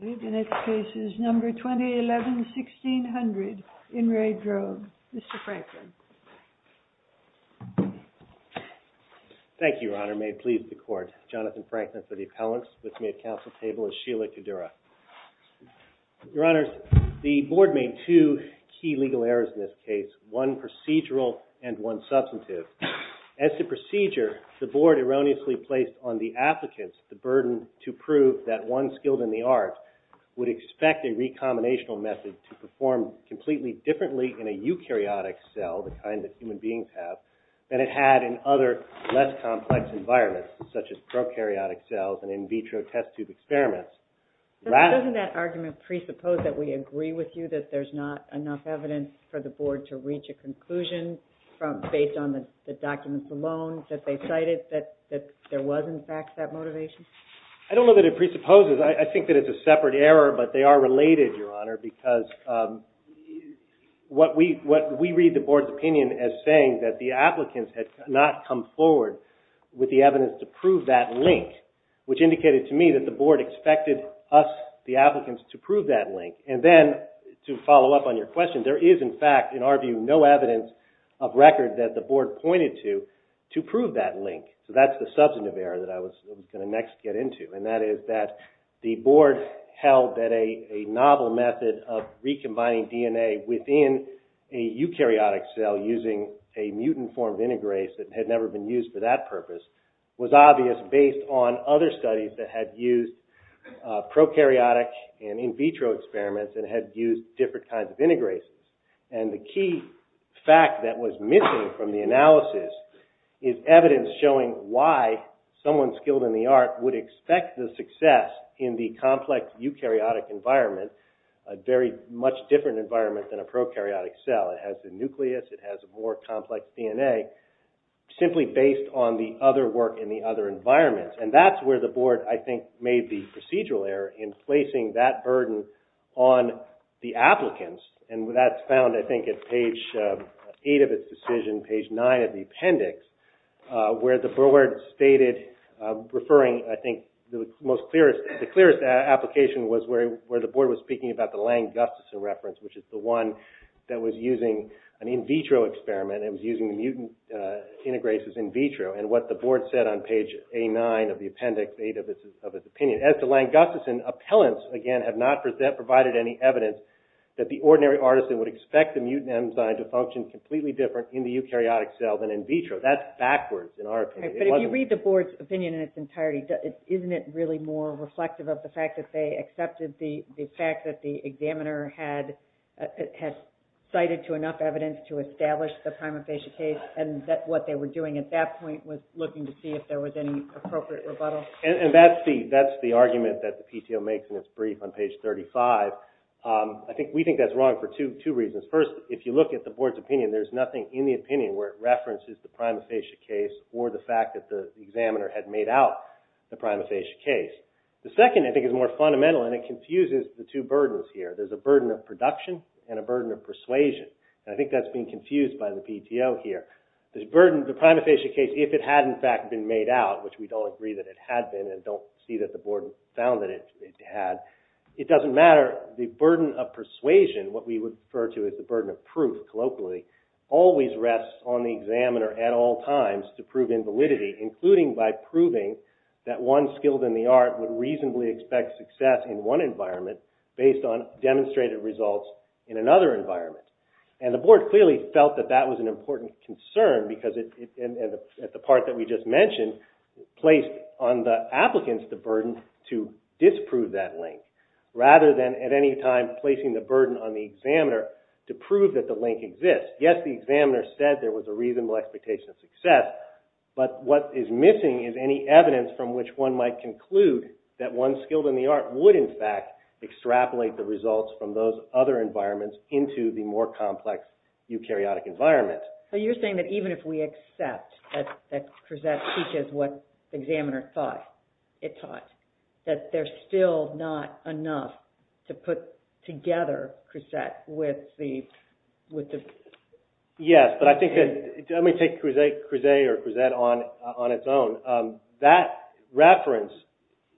I believe the next case is number 2011-1600 in RE DROGE. And I believe that the court has made two key legal errors in this case, one procedural and one substantive. As to procedure, the board erroneously placed on the applicants the burden to prove that one skilled in the art would expect a recombinational method to perform completely differently in a recombinational method to perform completely differently in a recombinational method. And I believe the court has made two key legal errors in this case, one procedural and one substantive. We read the board's opinion as saying that the applicants had not come forward with the evidence to prove that link, which indicated to me that the board expected us, the applicants, to prove that link. And then, to follow up on your question, there is in fact, in our view, no evidence of record that the board pointed to to prove that link. So that's the substantive error that I was going to next get into, and that is that the use of a eukaryotic cell using a mutant-formed integrase that had never been used for that purpose was obvious based on other studies that had used prokaryotic and in vitro experiments and had used different kinds of integrases. And the key fact that was missing from the analysis is evidence showing why someone skilled in the art would expect the success in the complex eukaryotic environment, a very much different environment than a prokaryotic cell. It has the nucleus, it has a more complex DNA, simply based on the other work in the other environments. And that's where the board, I think, made the procedural error in placing that burden on the applicants, and that's found, I think, at page 8 of its decision, page 9 of the appendix, where the board stated, referring, I think, the clearest application was where the board was speaking about the Lang-Gustafson reference, which is the one that was using an in vitro experiment and was using mutant integrases in vitro, and what the board said on page A9 of the appendix, page 8 of its opinion, as to Lang-Gustafson, appellants, again, have not provided any evidence that the ordinary artisan would expect the mutant enzyme to function completely different in the eukaryotic cell than in vitro. That's backwards, in our opinion. It wasn't... Okay, but if you read the board's opinion in its entirety, isn't it really more reflective of the fact that they accepted the fact that the examiner had cited to enough evidence to establish the prima facie case, and that what they were doing at that point was looking to see if there was any appropriate rebuttal? And that's the argument that the PTO makes in its brief on page 35. I think we think that's wrong for two reasons. First, if you look at the board's opinion, there's nothing in the opinion where it references the prima facie case or the fact that the examiner had made out the prima facie case. The second, I think, is more fundamental, and it confuses the two burdens here. There's a burden of production and a burden of persuasion, and I think that's being confused by the PTO here. This burden, the prima facie case, if it had, in fact, been made out, which we don't agree that it had been and don't see that the board found that it had, it doesn't matter. The burden of persuasion, what we would refer to as the burden of proof, colloquially, always rests on the examiner at all times to prove invalidity, including by proving that one skilled in the art would reasonably expect success in one environment based on demonstrated results in another environment. And the board clearly felt that that was an important concern because, at the part that we just mentioned, placed on the applicants the burden to disprove that link, rather than at any time placing the burden on the examiner to prove that the link exists. Yes, the examiner said there was a reasonable expectation of success, but what is missing is any evidence from which one might conclude that one skilled in the art would, in fact, extrapolate the results from those other environments into the more complex eukaryotic environment. So you're saying that even if we accept that Crescent teaches what the examiner thought it taught, that there's still not enough to put together Crescent with the... Yes, but I think... Let me take Crescent on its own. That reference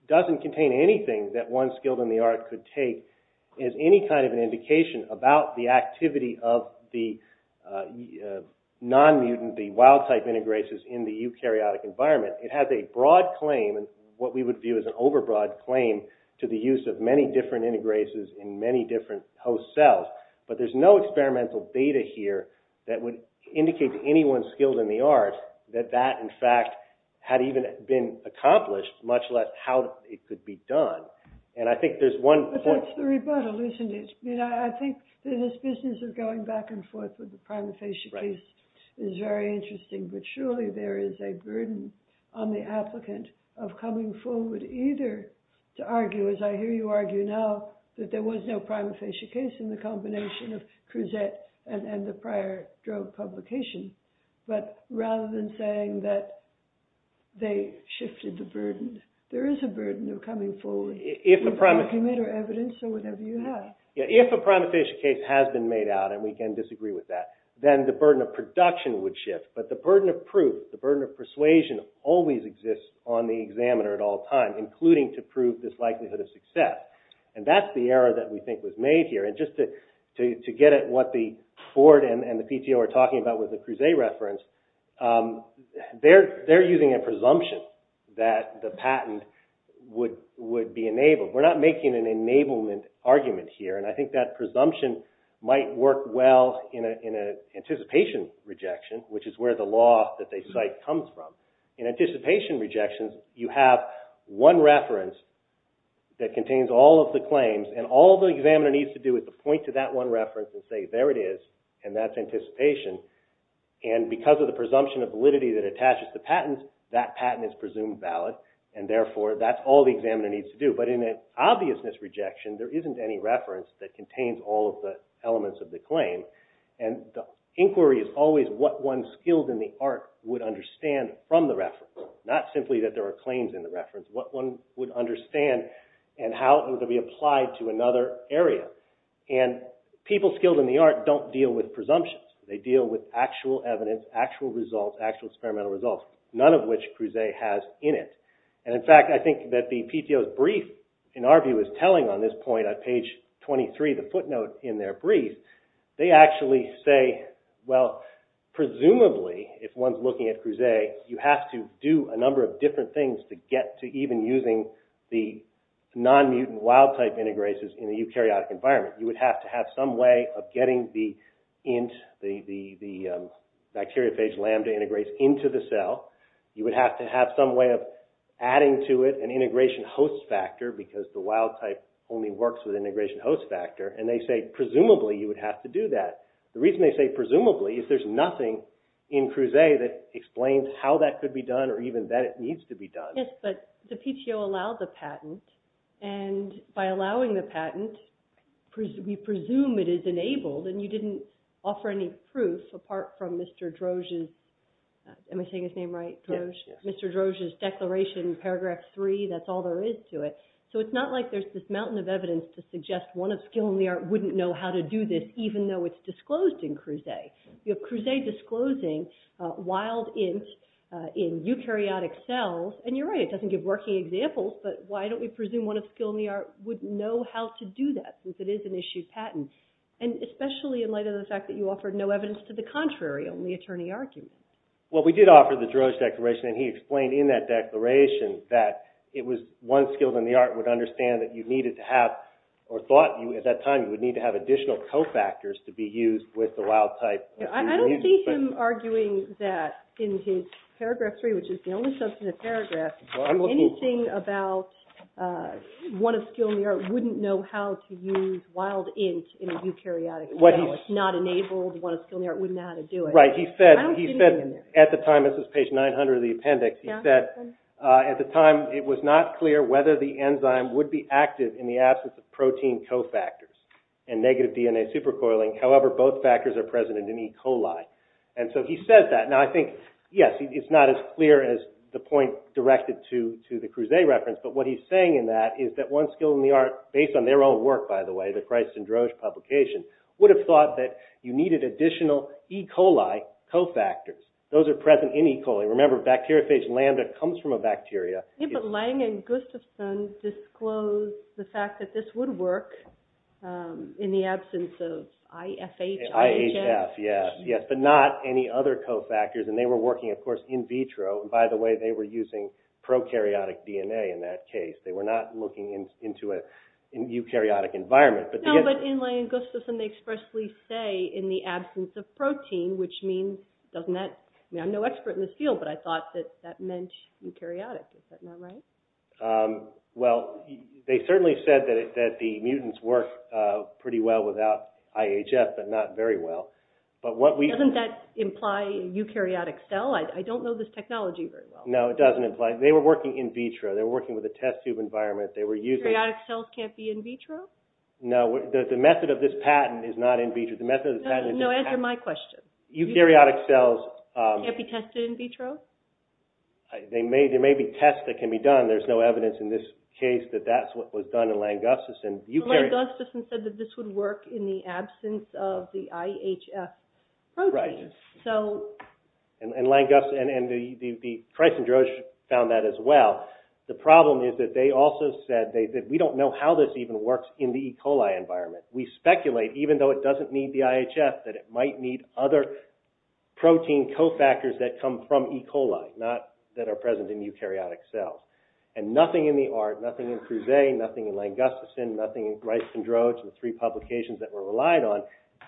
doesn't contain anything that one skilled in the art could take as any kind of an indication about the activity of the non-mutant, the wild-type integrases in the eukaryotic environment. It has a broad claim, what we would view as an over-broad claim, to the use of many different integrases in many different host cells, but there's no experimental data here that would indicate to anyone skilled in the art that that, in fact, had even been accomplished, much less how it could be done. And I think there's one point... But that's the rebuttal, isn't it? I think that this business of going back and forth with the primifacia case is very interesting, but surely there is a burden on the applicant of coming forward either to argue, as I hear you argue now, that there was no primifacia case in the combination of Crescent and the prior drug publication, but rather than saying that they shifted the burden, there is a burden of coming forward with the document or evidence or whatever you have. If a primifacia case has been made out, and we can disagree with that, then the burden of production would shift, but the burden of proof, the burden of persuasion, always exists on the examiner at all times, including to prove this likelihood of success. And that's the error that we think was made here. And just to get at what Ford and the PTO are talking about with the Crusae reference, they're using a presumption that the patent would be enabled. We're not making an enablement argument here, and I think that presumption might work well in an anticipation rejection, which is where the law that they cite comes from. In anticipation rejections, you have one reference that contains all of the claims, and all the examiner needs to do is to point to that one reference and say, there it is, and that's anticipation. And because of the presumption of validity that attaches to patents, that patent is presumed valid, and therefore that's all the examiner needs to do. But in an obviousness rejection, there isn't any reference that contains all of the elements of the claim, and the inquiry is always what one skilled in the art would understand from the reference, not simply that there are claims in the reference. What one would understand and how it would be applied to another area. And people skilled in the art don't deal with presumptions. They deal with actual evidence, actual results, actual experimental results, none of which Crusae has in it. And in fact, I think that the PTO's brief, in our view, is telling on this point on page 23, the footnote in their brief. They actually say, well, presumably, if one's looking at Crusae, you have to do a number of different things to get to even using the non-mutant wild type integrases in a eukaryotic environment. You would have to have some way of getting the bacteriophage lambda integrates into the cell. You would have to have some way of adding to it an integration host factor, because the wild type only works with integration host factor. And they say, presumably, you would have to do that. The reason they say presumably is there's nothing in Crusae that explains how that could be done or even that it needs to be done. Yes, but the PTO allowed the patent, and by allowing the patent, we presume it is enabled, and you didn't offer any proof apart from Mr. Droge's, am I saying his name right, Droge? Yes. Mr. Droge's declaration in paragraph three, that's all there is to it. So it's not like there's this mountain of evidence to suggest one of skill in the art wouldn't know how to do this, even though it's disclosed in Crusae. You have Crusae disclosing wild int in eukaryotic cells, and you're right, it doesn't give working examples, but why don't we presume one of skill in the art would know how to do that, since it is an issued patent? And especially in light of the fact that you offered no evidence to the contrary, only attorney arguments. Well, we did offer the Droge declaration, and he explained in that declaration that it was one skilled in the art would understand that you needed to have, or thought at that time you would need to have additional cofactors to be used with the wild type. I don't see him arguing that in his paragraph three, which is the only substantive paragraph, Anything about one of skill in the art wouldn't know how to use wild int in a eukaryotic cell. It's not enabled, one of skill in the art wouldn't know how to do it. Right, he said at the time, this is page 900 of the appendix, he said at the time it was not clear whether the enzyme would be active in the absence of protein cofactors and negative DNA supercoiling. However, both factors are present in E. coli. And so he says that. Now this is not relevant to the Crusae reference, but what he's saying in that is that one skill in the art, based on their own work, by the way, the Christ and Droge publication, would have thought that you needed additional E. coli cofactors. Those are present in E. coli. Remember bacteriophage lambda comes from a bacteria. Yeah, but Lang and Gustafson disclosed the fact that this would work in the absence of IFH, IHF. IHF, yes, yes, but not any other cofactors. And they were working, of course, in vitro. By the way, they were using prokaryotic DNA in that case. They were not looking into a eukaryotic environment. No, but in Lang and Gustafson they expressly say in the absence of protein, which means, doesn't that, I mean I'm no expert in this field, but I thought that that meant eukaryotic. Is that not right? Well, they certainly said that the mutants work pretty well without IHF, but not very well. Doesn't that imply eukaryotic cell? I don't know this technology very well. No, it doesn't imply. They were working in vitro. They were working with a test tube environment. Eukaryotic cells can't be in vitro? No, the method of this patent is not in vitro. No, answer my question. Eukaryotic cells... Can't be tested in vitro? There may be tests that can be done. There's no evidence in this case that that's what was done in Lang and Gustafson. Lang and Gustafson said that this would work in the absence of the IHF protein. Right. So... And Lang and Gustafson, and the Kreis and Droge found that as well. The problem is that they also said that we don't know how this even works in the E. coli environment. We speculate, even though it doesn't need the IHF, that it might need other protein cofactors that come from E. coli, not that are present in eukaryotic cells. And nothing in the ART, nothing in Kruse, nothing in Lang and Gustafson, nothing in Kreis and Droge, the three publications that were relied on,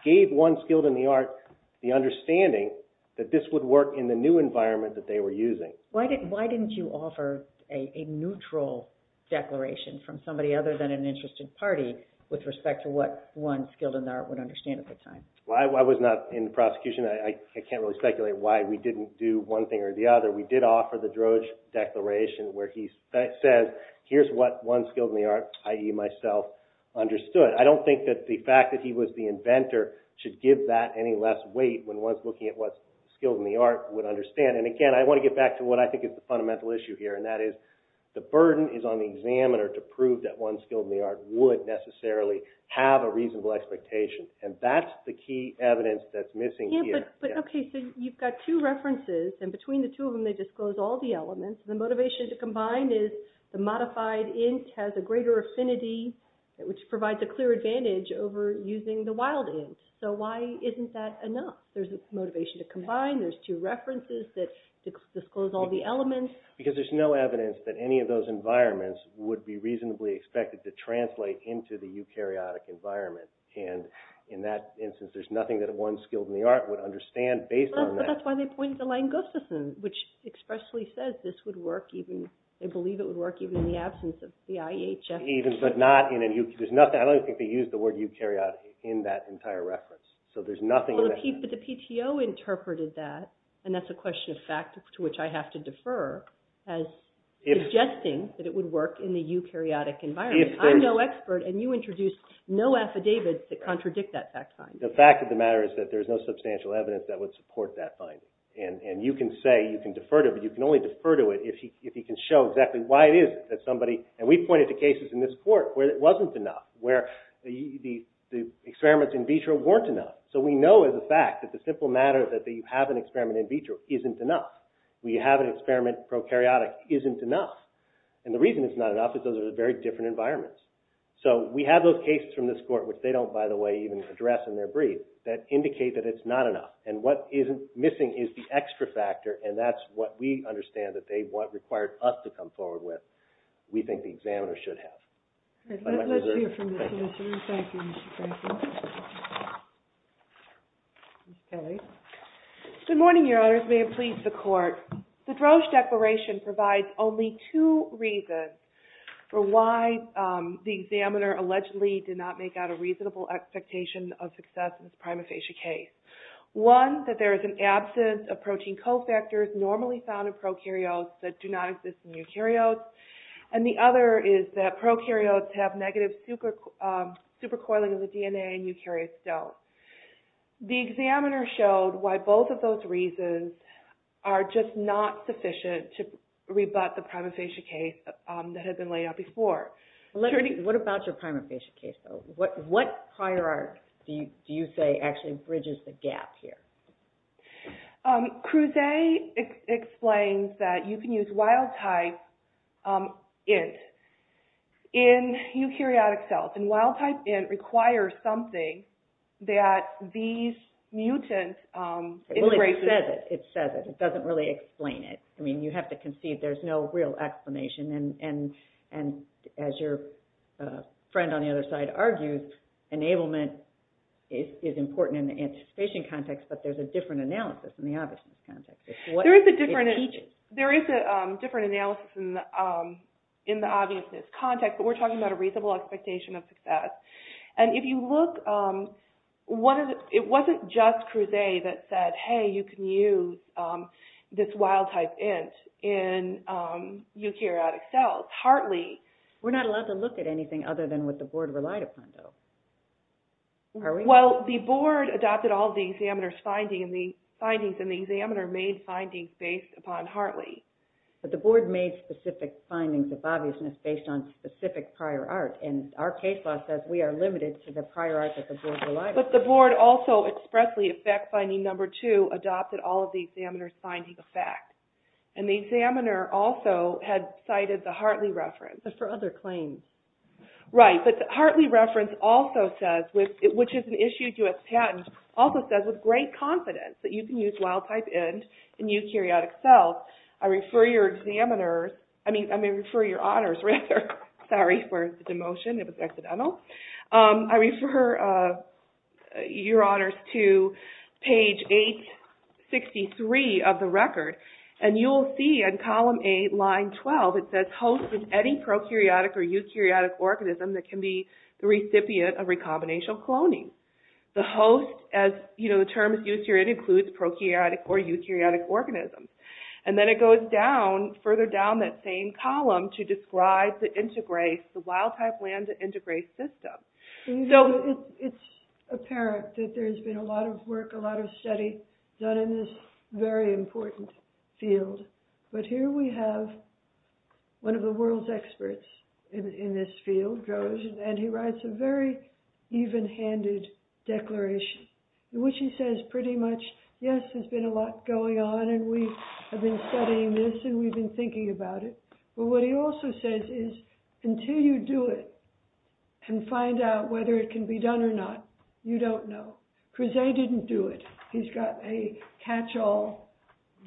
gave one skilled in the ART the understanding that this would work in the new environment that they were using. Why didn't you offer a neutral declaration from somebody other than an interested party with respect to what one skilled in the ART would understand at the time? Well, I was not in the prosecution. I can't really speculate why we didn't do one thing or the other. We did offer the Droge declaration where he says, here's what one skilled in the ART, i.e. myself, understood. I don't think that the fact that he was the inventor should give that any less weight when one's looking at what skilled in the ART would understand. And again, I want to get back to what I think is the fundamental issue here, and that is the burden is on the examiner to prove that one skilled in the ART would necessarily have a reasonable expectation. And that's the key evidence that's missing here. Okay, so you've got two references, and between the two of them they disclose all the elements. The motivation to combine is the modified int has a greater affinity, which provides a clear advantage over using the wild int. So why isn't that enough? There's a motivation to combine. There's two references that disclose all the elements. Because there's no evidence that any of those environments would be reasonably expected to translate into the eukaryotic environment. And in that instance, there's nothing that one skilled in the ART would understand based on that. Well, but that's why they point to Lange-Gustafson, which expressly says this would work even – they believe it would work even in the absence of the IEHS. Even, but not in a – there's nothing – I don't even think they used the word eukaryotic in that entire reference. So there's nothing – Well, the PTO interpreted that, and that's a question of fact to which I have to defer, as suggesting that it would work in the eukaryotic environment. I'm no expert, and you introduced no affidavits that contradict that fact find. The fact of the matter is that there's no substantial evidence that would support that finding. And you can say – you can defer to it, but you can only defer to it if you can show exactly why it is that somebody – and we've pointed to cases in this court where it wasn't enough, where the experiments in vitro weren't enough. So we know as a fact that the simple matter that you have an experiment in vitro isn't enough. We have an experiment prokaryotic isn't enough. And the reason it's not enough is those are very different environments. So we have those cases from this court, which they don't, by the way, even address in their brief, that indicate that it's not enough. And what isn't missing is the extra factor, and that's what we understand that they want – required us to come forward with, we think the examiners should have. Let's hear from the solicitor. Thank you, Mr. Franklin. Ms. Kelly. Good morning, Your Honors. May it please the Court. The Drosch Declaration provides only two reasons for why the examiner allegedly did not make out a reasonable expectation of success in this prima facie case. One, that there is an absence of protein cofactors normally found in prokaryotes that do not exist in eukaryotes. And the other is that prokaryotes have negative supercoiling of the DNA and eukaryotes don't. The examiner showed why both of those reasons are just not sufficient to rebut the prima facie case that had been laid out before. What about your prima facie case, though? What hierarchy do you say actually bridges the gap here? Crusay explains that you can use wild-type int in eukaryotic cells, and wild-type int requires something that these mutants... Well, it says it. It says it. It doesn't really explain it. I mean, you have to concede there's no real explanation, and as your friend on the other side argues, enablement is important in the anticipation context, but there's a different analysis in the obviousness context. There is a different analysis in the obviousness context, but we're talking about a reasonable expectation of success. And if you look, it wasn't just Crusay that said, hey, you can use this wild-type int in eukaryotic cells. Hartley... We're not allowed to look at anything other than what the board relied upon, though. Well, the board adopted all of the examiner's findings, and the examiner made findings based upon Hartley. But the board made specific findings of obviousness based on specific prior art, and our case law says we are limited to the prior art that the board relied upon. But the board also expressly, effect finding number two, adopted all of the examiner's findings of fact, and the examiner also had cited the Hartley reference. But for other claims. Right, but the Hartley reference also says, which is an issue to attend, also says with great confidence that you can use wild-type int in eukaryotic cells. I refer your honors to page 863 of the record, and you'll see in column 8, line 12, it says hosts of any prokaryotic or eukaryotic organism that can be the recipient of recombinational cloning. The host, as the term is used here, it includes prokaryotic or eukaryotic organisms. And then it goes down, further down that same column, to describe the integrase, the wild-type land integrase system. So it's apparent that there's been a lot of work, a lot of study done in this very important field, but here we have one of the world's experts in this field, and he writes a very even-handed declaration, which he says pretty much, yes, there's been a lot going on, and we have been studying this, and we've been thinking about it. But what he also says is, until you do it, and find out whether it can be done or not, you don't know. Creuset didn't do it. He's got a catch-all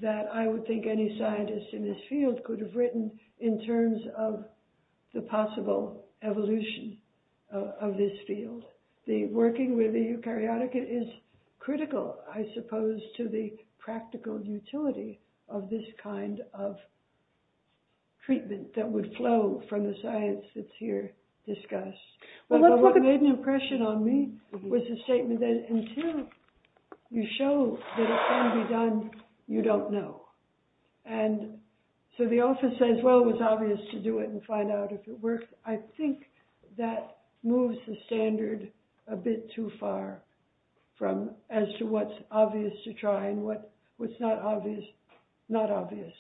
that I would think any scientist in this field could have written in terms of the possible evolution of this field. The working with the eukaryotic is critical, I suppose, to the practical utility of this kind of treatment that would flow from the science that's here discussed. But what made an impression on me was the statement that until you show that it can be done, you don't know. And so the office says, well, it was obvious to do it and find out if it worked. I think that moves the standard a bit too far from as to what's obvious to try and what's not obvious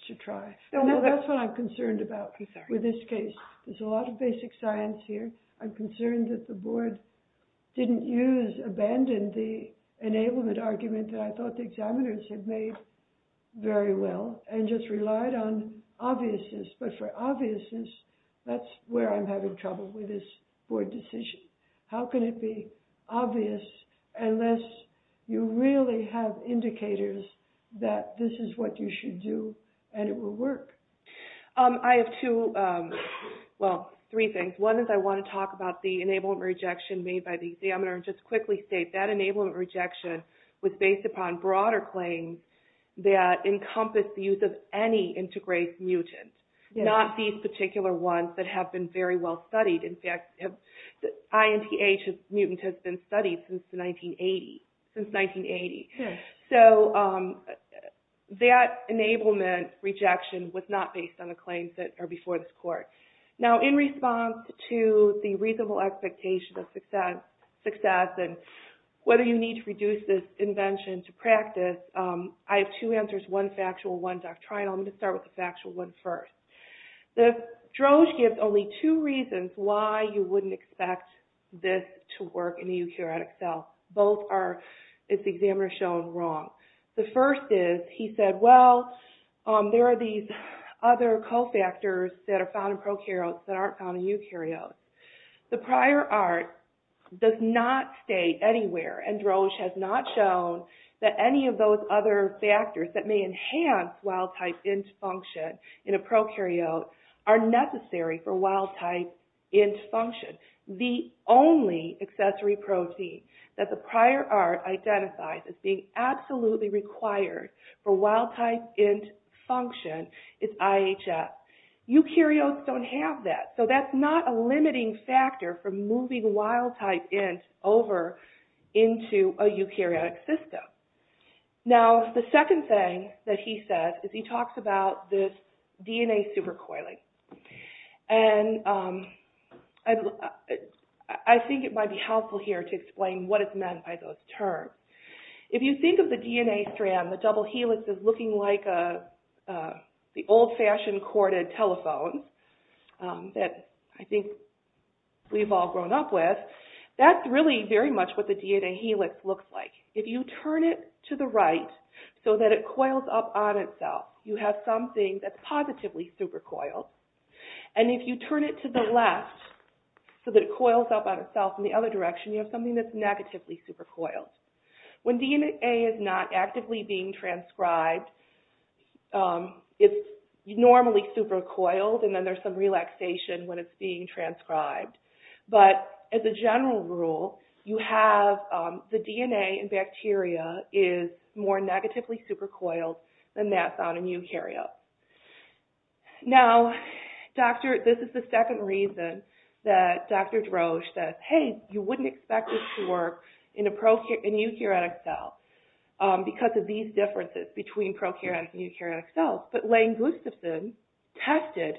to try. That's what I'm concerned about with this case. There's a lot of basic science here. I'm concerned that the board didn't use, abandoned the enablement argument that I know very well and just relied on obviousness. But for obviousness, that's where I'm having trouble with this board decision. How can it be obvious unless you really have indicators that this is what you should do and it will work? I have two, well, three things. One is I want to talk about the enablement rejection made by the examiner. Just to quickly state, that enablement rejection was based upon broader claims that encompass the use of any integrase mutant, not these particular ones that have been very well studied. In fact, the INTH mutant has been studied since 1980. So that enablement rejection was not based on the claims that are before this court. Now, in response to the reasonable expectation of success and whether you need to reduce this invention to practice, I have two answers. One factual, one doctrinal. I'm going to start with the factual one first. Droge gives only two reasons why you wouldn't expect this to work in a eukaryotic cell. The first is, he said, well, there are these other cofactors that are found in prokaryotes that aren't found in eukaryotes. The prior art does not state anywhere, and Droge has not shown, that any of those other factors that may enhance wild type INTH function in a prokaryote are necessary for wild type INTH function. The only accessory protein that the prior art identifies as being absolutely required for wild type INTH function is IHS. Eukaryotes don't have that. So that's not a limiting factor for moving wild type INTH over into a eukaryotic system. Now, the second thing that he says is he talks about this DNA supercoiling. And I think it might be helpful here to explain what is meant by those terms. If you think of the DNA strand, the double helix is looking like the old-fashioned corded telephone that I think we've all grown up with. That's really very much what the DNA helix looks like. If you turn it to the right so that it coils up on itself, you have something that's supercoiled. And if you turn it to the left so that it coils up on itself in the other direction, you have something that's negatively supercoiled. When DNA is not actively being transcribed, it's normally supercoiled, and then there's some relaxation when it's being transcribed. But, as a general rule, the DNA in bacteria is more negatively supercoiled than that's on a eukaryote. Now, this is the second reason that Dr. Droge says, hey, you wouldn't expect this to work in a eukaryotic cell because of these differences between prokaryotic and eukaryotic cells. But Lane Gustafson tested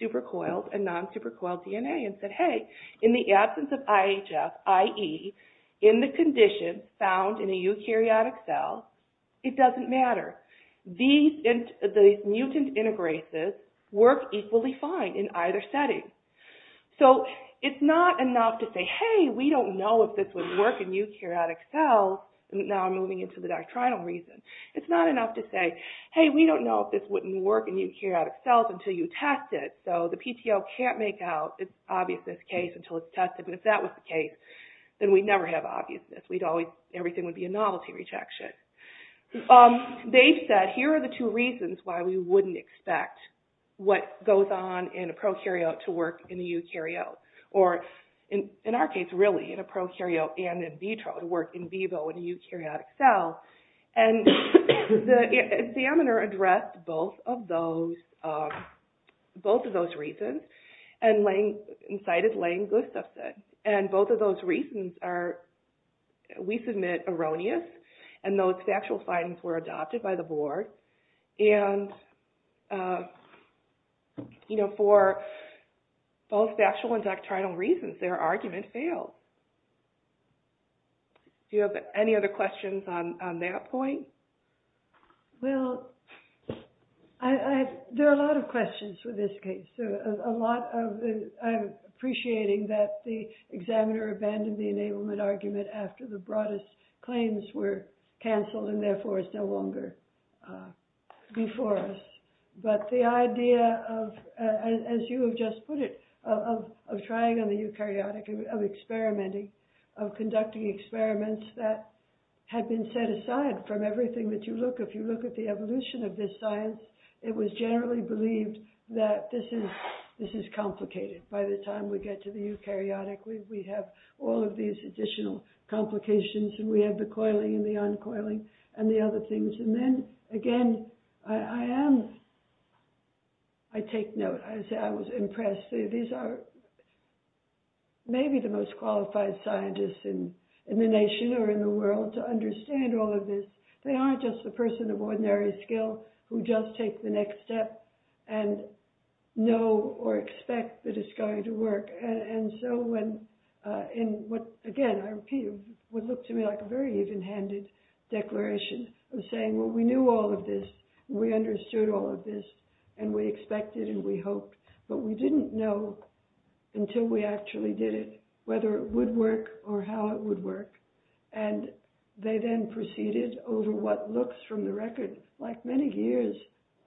supercoiled and non-supercoiled DNA and said, hey, in the absence of IHF, i.e., in the condition found in a eukaryotic cell, it doesn't matter. These mutant integrases work equally fine in either setting. So it's not enough to say, hey, we don't know if this would work in eukaryotic cells. Now I'm moving into the doctrinal reason. It's not enough to say, hey, we don't know if this wouldn't work in eukaryotic cells until you test it. So the PTO can't make out its obviousness case until it's tested. And if that was the case, then we'd never have obviousness. Everything would be a novelty rejection. They've said, here are the two reasons why we wouldn't expect what goes on in a prokaryote to work in the eukaryote. Or in our case, really, in a prokaryote and in vitro to work in vivo in a eukaryotic cell. And the examiner addressed both of those reasons and cited Lane Gustafson. And both of those reasons are, we submit, erroneous. And those factual findings were adopted by the board. And for both factual and doctrinal reasons, their argument failed. Do you have any other questions on that point? Well, there are a lot of questions for this case. I'm appreciating that the examiner abandoned the enablement argument after the prokaryotes were cancelled and therefore it's no longer before us. But the idea of, as you have just put it, of trying on the eukaryotic, of experimenting, of conducting experiments that had been set aside from everything that you look, if you look at the evolution of this science, it was generally believed that this is complicated. By the time we get to the eukaryotic, we have all of these additional complications. And we have the coiling and the uncoiling and the other things. And then, again, I am, I take note, I say I was impressed. These are maybe the most qualified scientists in the nation or in the world to understand all of this. They aren't just the person of ordinary skill who just take the next step and know or expect that it's going to work. And so when, again, I repeat, it would look to me like a very even-handed declaration of saying, well, we knew all of this. We understood all of this. And we expected and we hoped. But we didn't know until we actually did it whether it would work or how it would work. And they then proceeded over what looks from the record like many years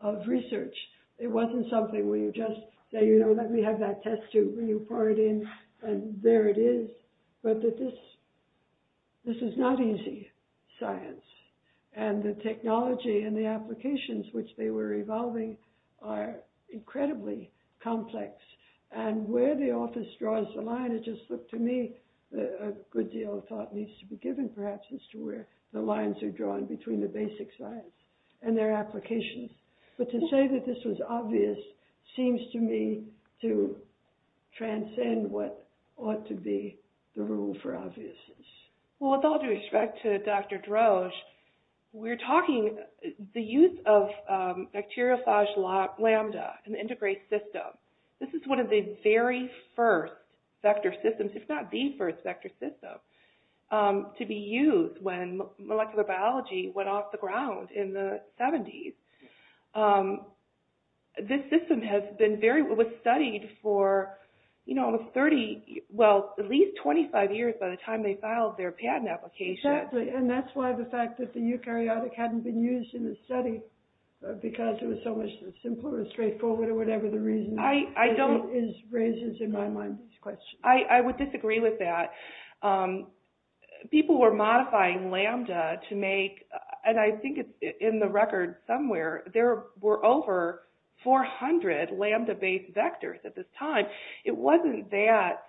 of research. It wasn't something where you just say, you know, let me have that test tube and you pour it in and there it is. But this is not easy science. And the technology and the applications which they were evolving are incredibly complex. And where the office draws the line, it just looked to me, a good deal of thought needs to be given perhaps as to where the lines are drawn between the basic science and their applications. But to say that this was obvious seems to me to transcend what ought to be the rule for obviousness. Well, with all due respect to Dr. Droge, we're talking the use of bacteriophage lambda in the integrase system. This is one of the very first vector systems, if not the first vector system, to be used when molecular biology went off the ground in the 70s. This system was studied for at least 25 years by the time they filed their patent application. Exactly. And that's why the fact that the eukaryotic hadn't been used in the study because it was so much simpler and straightforward or whatever the reason is raises in my mind this question. I would disagree with that. People were modifying lambda to make, and I think in the record somewhere, there were over 400 lambda-based vectors at this time. It wasn't that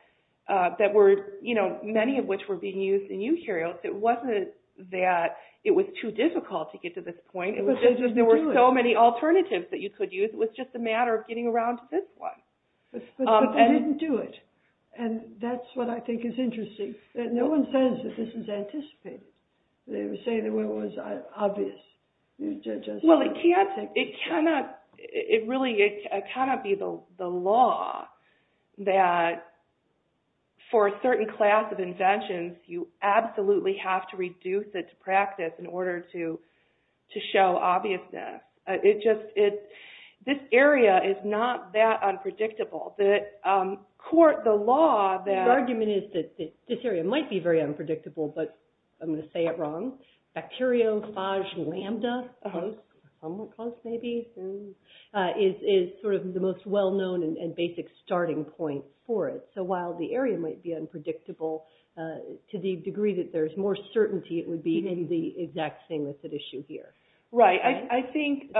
many of which were being used in eukaryotes. It wasn't that it was too difficult to get to this point. There were so many alternatives that you could use. It was just a matter of getting around to this one. But they didn't do it. And that's what I think is interesting, that no one says that this was anticipated. They would say that it was obvious. Well, it cannot be the law that for a certain class of inventions, you absolutely have to reduce it to practice in order to show obviousness. This area is not that unpredictable. The argument is that this area might be very unpredictable, but I'm going to say it wrong. Bacteriophage lambda is sort of the most well-known and basic starting point for it. So while the area might be unpredictable, to the degree that there's more certainty, it would be the exact same as the issue here. Right. I think,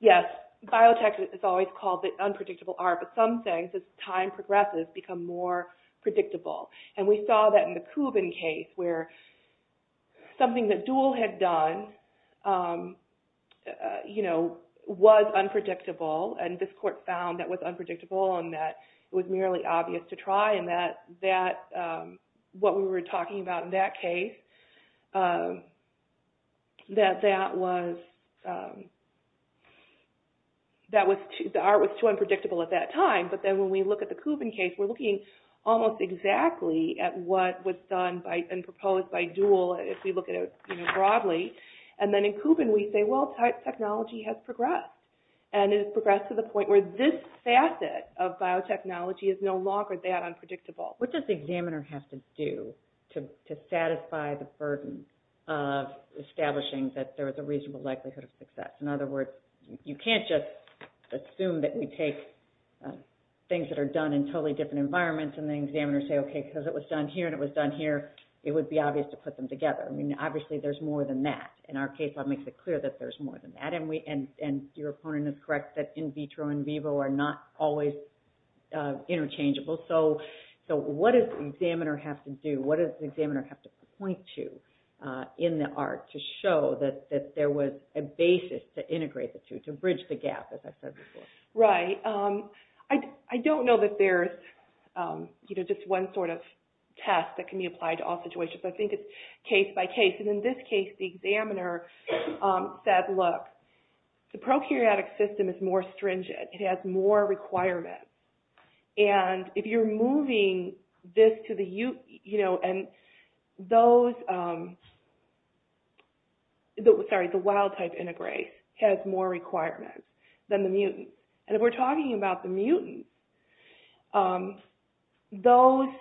yes, biotech is always called the unpredictable R, but some things, as time progresses, become more predictable. And we saw that in the Kubin case where something that Duhl had done was unpredictable, and this court found that was unpredictable and that it was merely obvious to try. And what we were talking about in that case, that the R was too unpredictable at that time. But then when we look at the Kubin case, we're looking almost exactly at what was done and proposed by Duhl, if we look at it broadly. And then in Kubin, we say, well, technology has progressed, and it has progressed to the point where this facet of biotechnology is no longer that unpredictable. What does the examiner have to do to satisfy the burden of establishing that there is a reasonable likelihood of success? In other words, you can't just assume that we take things that are done in totally different environments, and the examiners say, okay, because it was done here and it was done here, it would be obvious to put them together. I mean, obviously there's more than that. And our case law makes it clear that there's more than that. And your opponent is correct that in vitro and vivo are not always interchangeable. So what does the examiner have to do? What does the examiner have to point to in the R to show that there was a basis to integrate the two, to bridge the gap, as I said before? Right. I don't know that there's just one sort of test that can be applied to all situations. I think it's case by case. And in this case, the examiner said, look, the prokaryotic system is more stringent. It has more requirements. And if you're moving this to the eukaryote, you know, and those – sorry, the wild type integrase has more requirements than the mutant. And if we're talking about the mutant, those –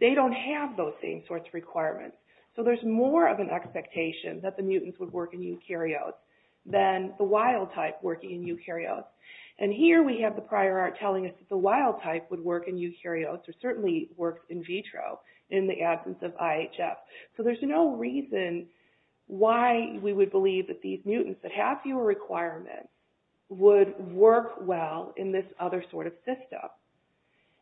they don't have those same sorts of requirements. So there's more of an expectation that the mutants would work in eukaryotes than the wild type working in eukaryotes. And here we have the prior art telling us that the wild type would work in eukaryotes or certainly works in vitro in the absence of IHF. So there's no reason why we would believe that these mutants that have fewer requirements would work well in this other sort of system.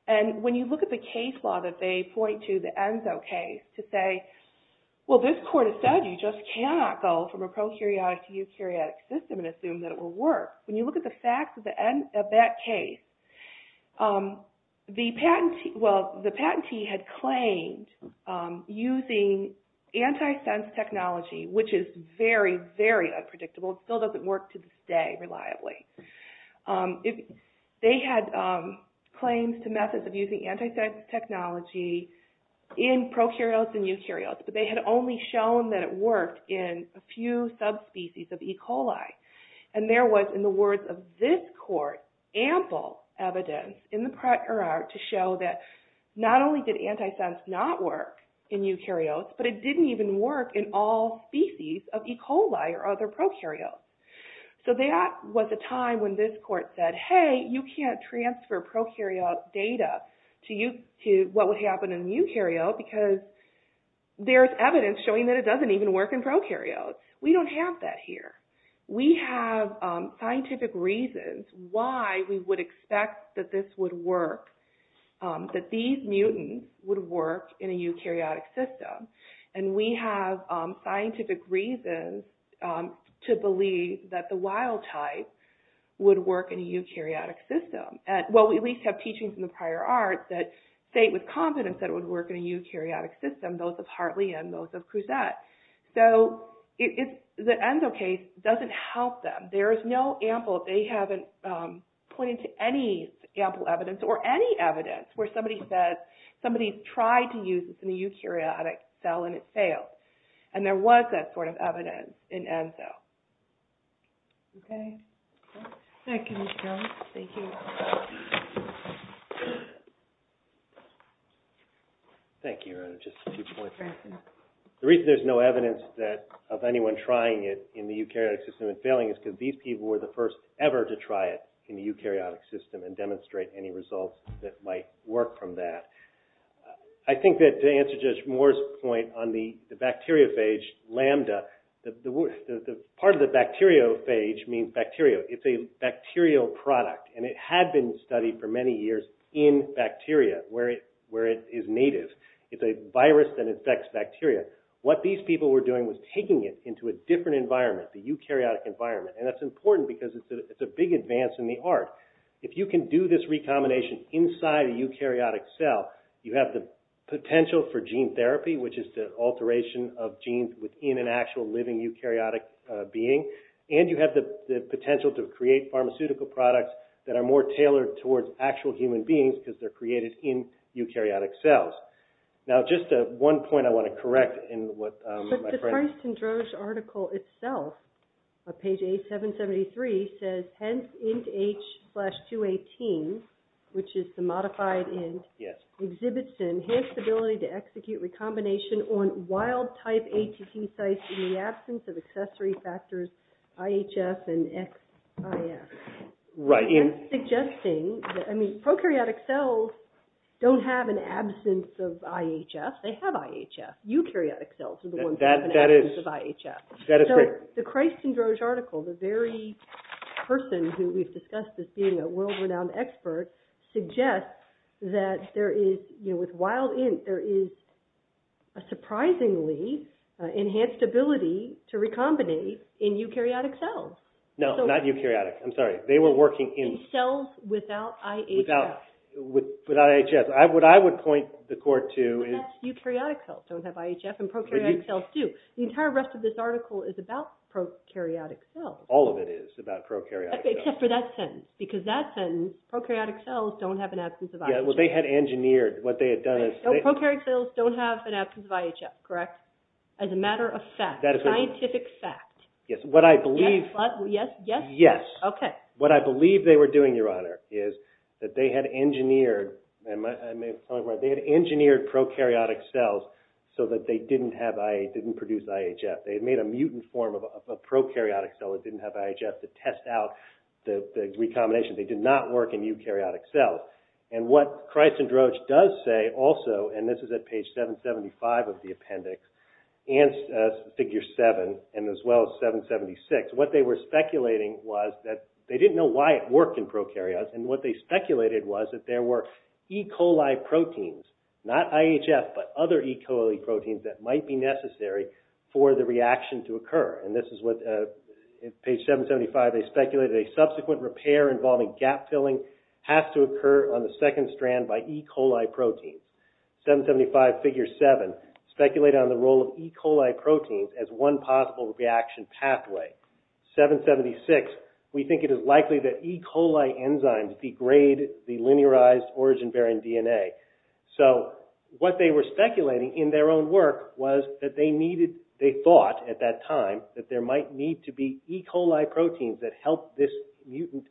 And when you look at the case law that they point to, the ENSO case, to say, well, this court has said you just cannot go from a prokaryotic to eukaryotic system and assume that it will work. When you look at the facts at the end of that case, the patentee – well, the patentee had claimed using antisense technology, which is very, very unpredictable. It still doesn't work to this day reliably. They had claims to methods of using antisense technology in prokaryotes and eukaryotes, but they had only shown that it worked in a few subspecies of E. coli. And there was, in the words of this court, ample evidence in the prior art to show that not only did antisense not work in eukaryotes, but it didn't even work in all species of E. coli or other prokaryotes. So that was a time when this court said, hey, you can't transfer prokaryote data to what would happen in eukaryote because there's evidence showing that it doesn't even work in prokaryotes. We don't have that here. We have scientific reasons why we would expect that this would work, that these mutants would work in a eukaryotic system. And we have scientific reasons to believe that the wild type would work in a eukaryotic system. Well, we at least have teachings in the prior art that state with confidence that it would work in a eukaryotic system, both of Hartley and those of Crusette. So the ENSO case doesn't help them. There is no ample – they haven't pointed to any ample evidence or any evidence where somebody said somebody tried to use this in a eukaryotic cell and it failed. And there was that sort of evidence in ENSO. Okay? Thank you, Ms. Jones. Thank you. Thank you, Rhona. Just a few points. The reason there's no evidence of anyone trying it in the eukaryotic system and failing is because these people were the first ever to try it in the eukaryotic system and demonstrate any results that might work from that. I think that to answer Judge Moore's point on the bacteriophage lambda, part of the bacteriophage means bacteria. It's a bacterial product. And it had been studied for many years in bacteria where it is native. It's a virus that infects bacteria. What these people were doing was taking it into a different environment, the eukaryotic environment. And that's important because it's a big advance in the art. If you can do this recombination inside a eukaryotic cell, you have the potential for gene therapy, which is the alteration of genes within an actual living eukaryotic being. And you have the potential to create pharmaceutical products that are more tailored towards actual human beings because they're created in eukaryotic cells. Now, just one point I want to correct in what my friend... But the Princeton-Droge article itself, on page 8773, says, hence int H-218, which is the modified int, exhibits an enhanced ability to execute recombination on wild-type ATT sites in the absence of accessory factors IHS and XIS. Right. Prokaryotic cells don't have an absence of IHS. They have IHS. Eukaryotic cells are the ones that have an absence of IHS. So the Christ and Droge article, the very person who we've discussed as being a world-renowned expert, suggests that with wild int, there is a surprisingly enhanced ability to recombinate in eukaryotic cells. No, not eukaryotic. I'm sorry. They were working in... Cells without IHS. Without IHS. What I would point the court to is... But that's eukaryotic cells don't have IHS, and prokaryotic cells do. The entire rest of this article is about prokaryotic cells. All of it is about prokaryotic cells. Except for that sentence, because that sentence, prokaryotic cells don't have an absence of IHS. Yeah, well, they had engineered what they had done is... Prokaryotic cells don't have an absence of IHS, correct? As a matter of fact. That is correct. Scientific fact. Yes, what I believe... Yes? Yes. Okay. What I believe they were doing, Your Honor, is that they had engineered prokaryotic cells so that they didn't produce IHS. They had made a mutant form of prokaryotic cell that didn't have IHS to test out the recombination. They did not work in eukaryotic cells. And what Christendroach does say also, and this is at page 775 of the appendix, and figure 7, and as well as 776, what they were speculating was that... They didn't know why it worked in prokaryotes, and what they speculated was that there were E. coli proteins, not IHS, but other E. coli proteins that might be necessary for the reaction to occur. And this is what, at page 775, they speculated a subsequent repair involving gap filling has to occur on the second strand by E. coli proteins. 775, figure 7, speculated on the role of E. coli proteins as one possible reaction pathway. 776, we think it is likely that E. coli enzymes degrade the linearized origin-bearing DNA. So what they were speculating in their own work was that they thought, at that time, that there might need to be E. coli proteins that help this mutant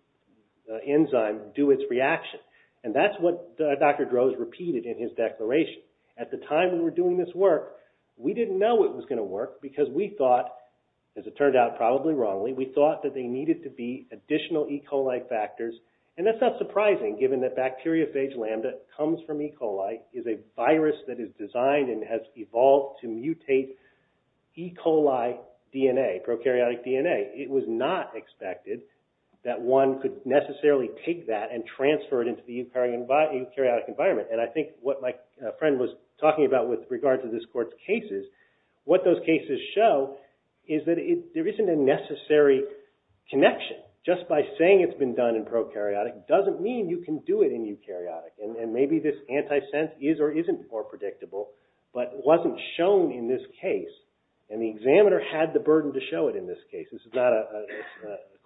enzyme do its reaction. And that's what Dr. Droz repeated in his declaration. At the time we were doing this work, we didn't know it was going to work because we thought, as it turned out probably wrongly, we thought that there needed to be additional E. coli factors. And that's not surprising, given that bacteriophage lambda comes from E. coli, is a virus that is designed and has evolved to mutate E. coli DNA, prokaryotic DNA. It was not expected that one could necessarily take that and transfer it into the eukaryotic environment. And I think what my friend was talking about with regard to this court's cases, what those cases show is that there isn't a necessary connection. Just by saying it's been done in prokaryotic doesn't mean you can do it in eukaryotic. And maybe this antisense is or isn't more predictable, but wasn't shown in this case. And the examiner had the burden to show it in this case. This is not a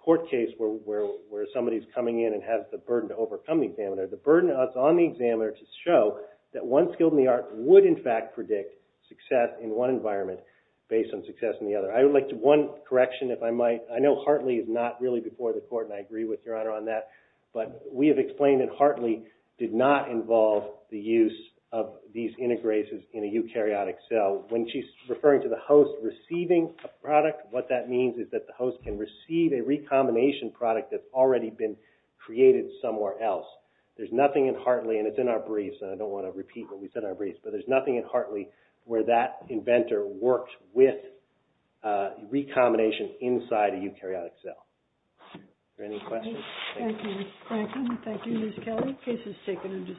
court case where somebody's coming in and has the burden to overcome the examiner. The burden is on the examiner to show that one skill in the art would, in fact, predict success in one environment based on success in the other. I would like to do one correction, if I might. I know Hartley is not really before the court, and I agree with Your Honor on that. But we have explained that Hartley did not involve the use of these integrases in a eukaryotic cell. When she's referring to the host receiving a product, what that means is that the host can receive a recombination product that's already been created somewhere else. There's nothing in Hartley, and it's in our briefs, and I don't want to repeat what we said in our briefs, but there's nothing in Hartley where that inventor worked with recombination inside a eukaryotic cell. Are there any questions? Thank you, Ms. Franklin. Thank you, Ms. Kelly. Case is taken into submission.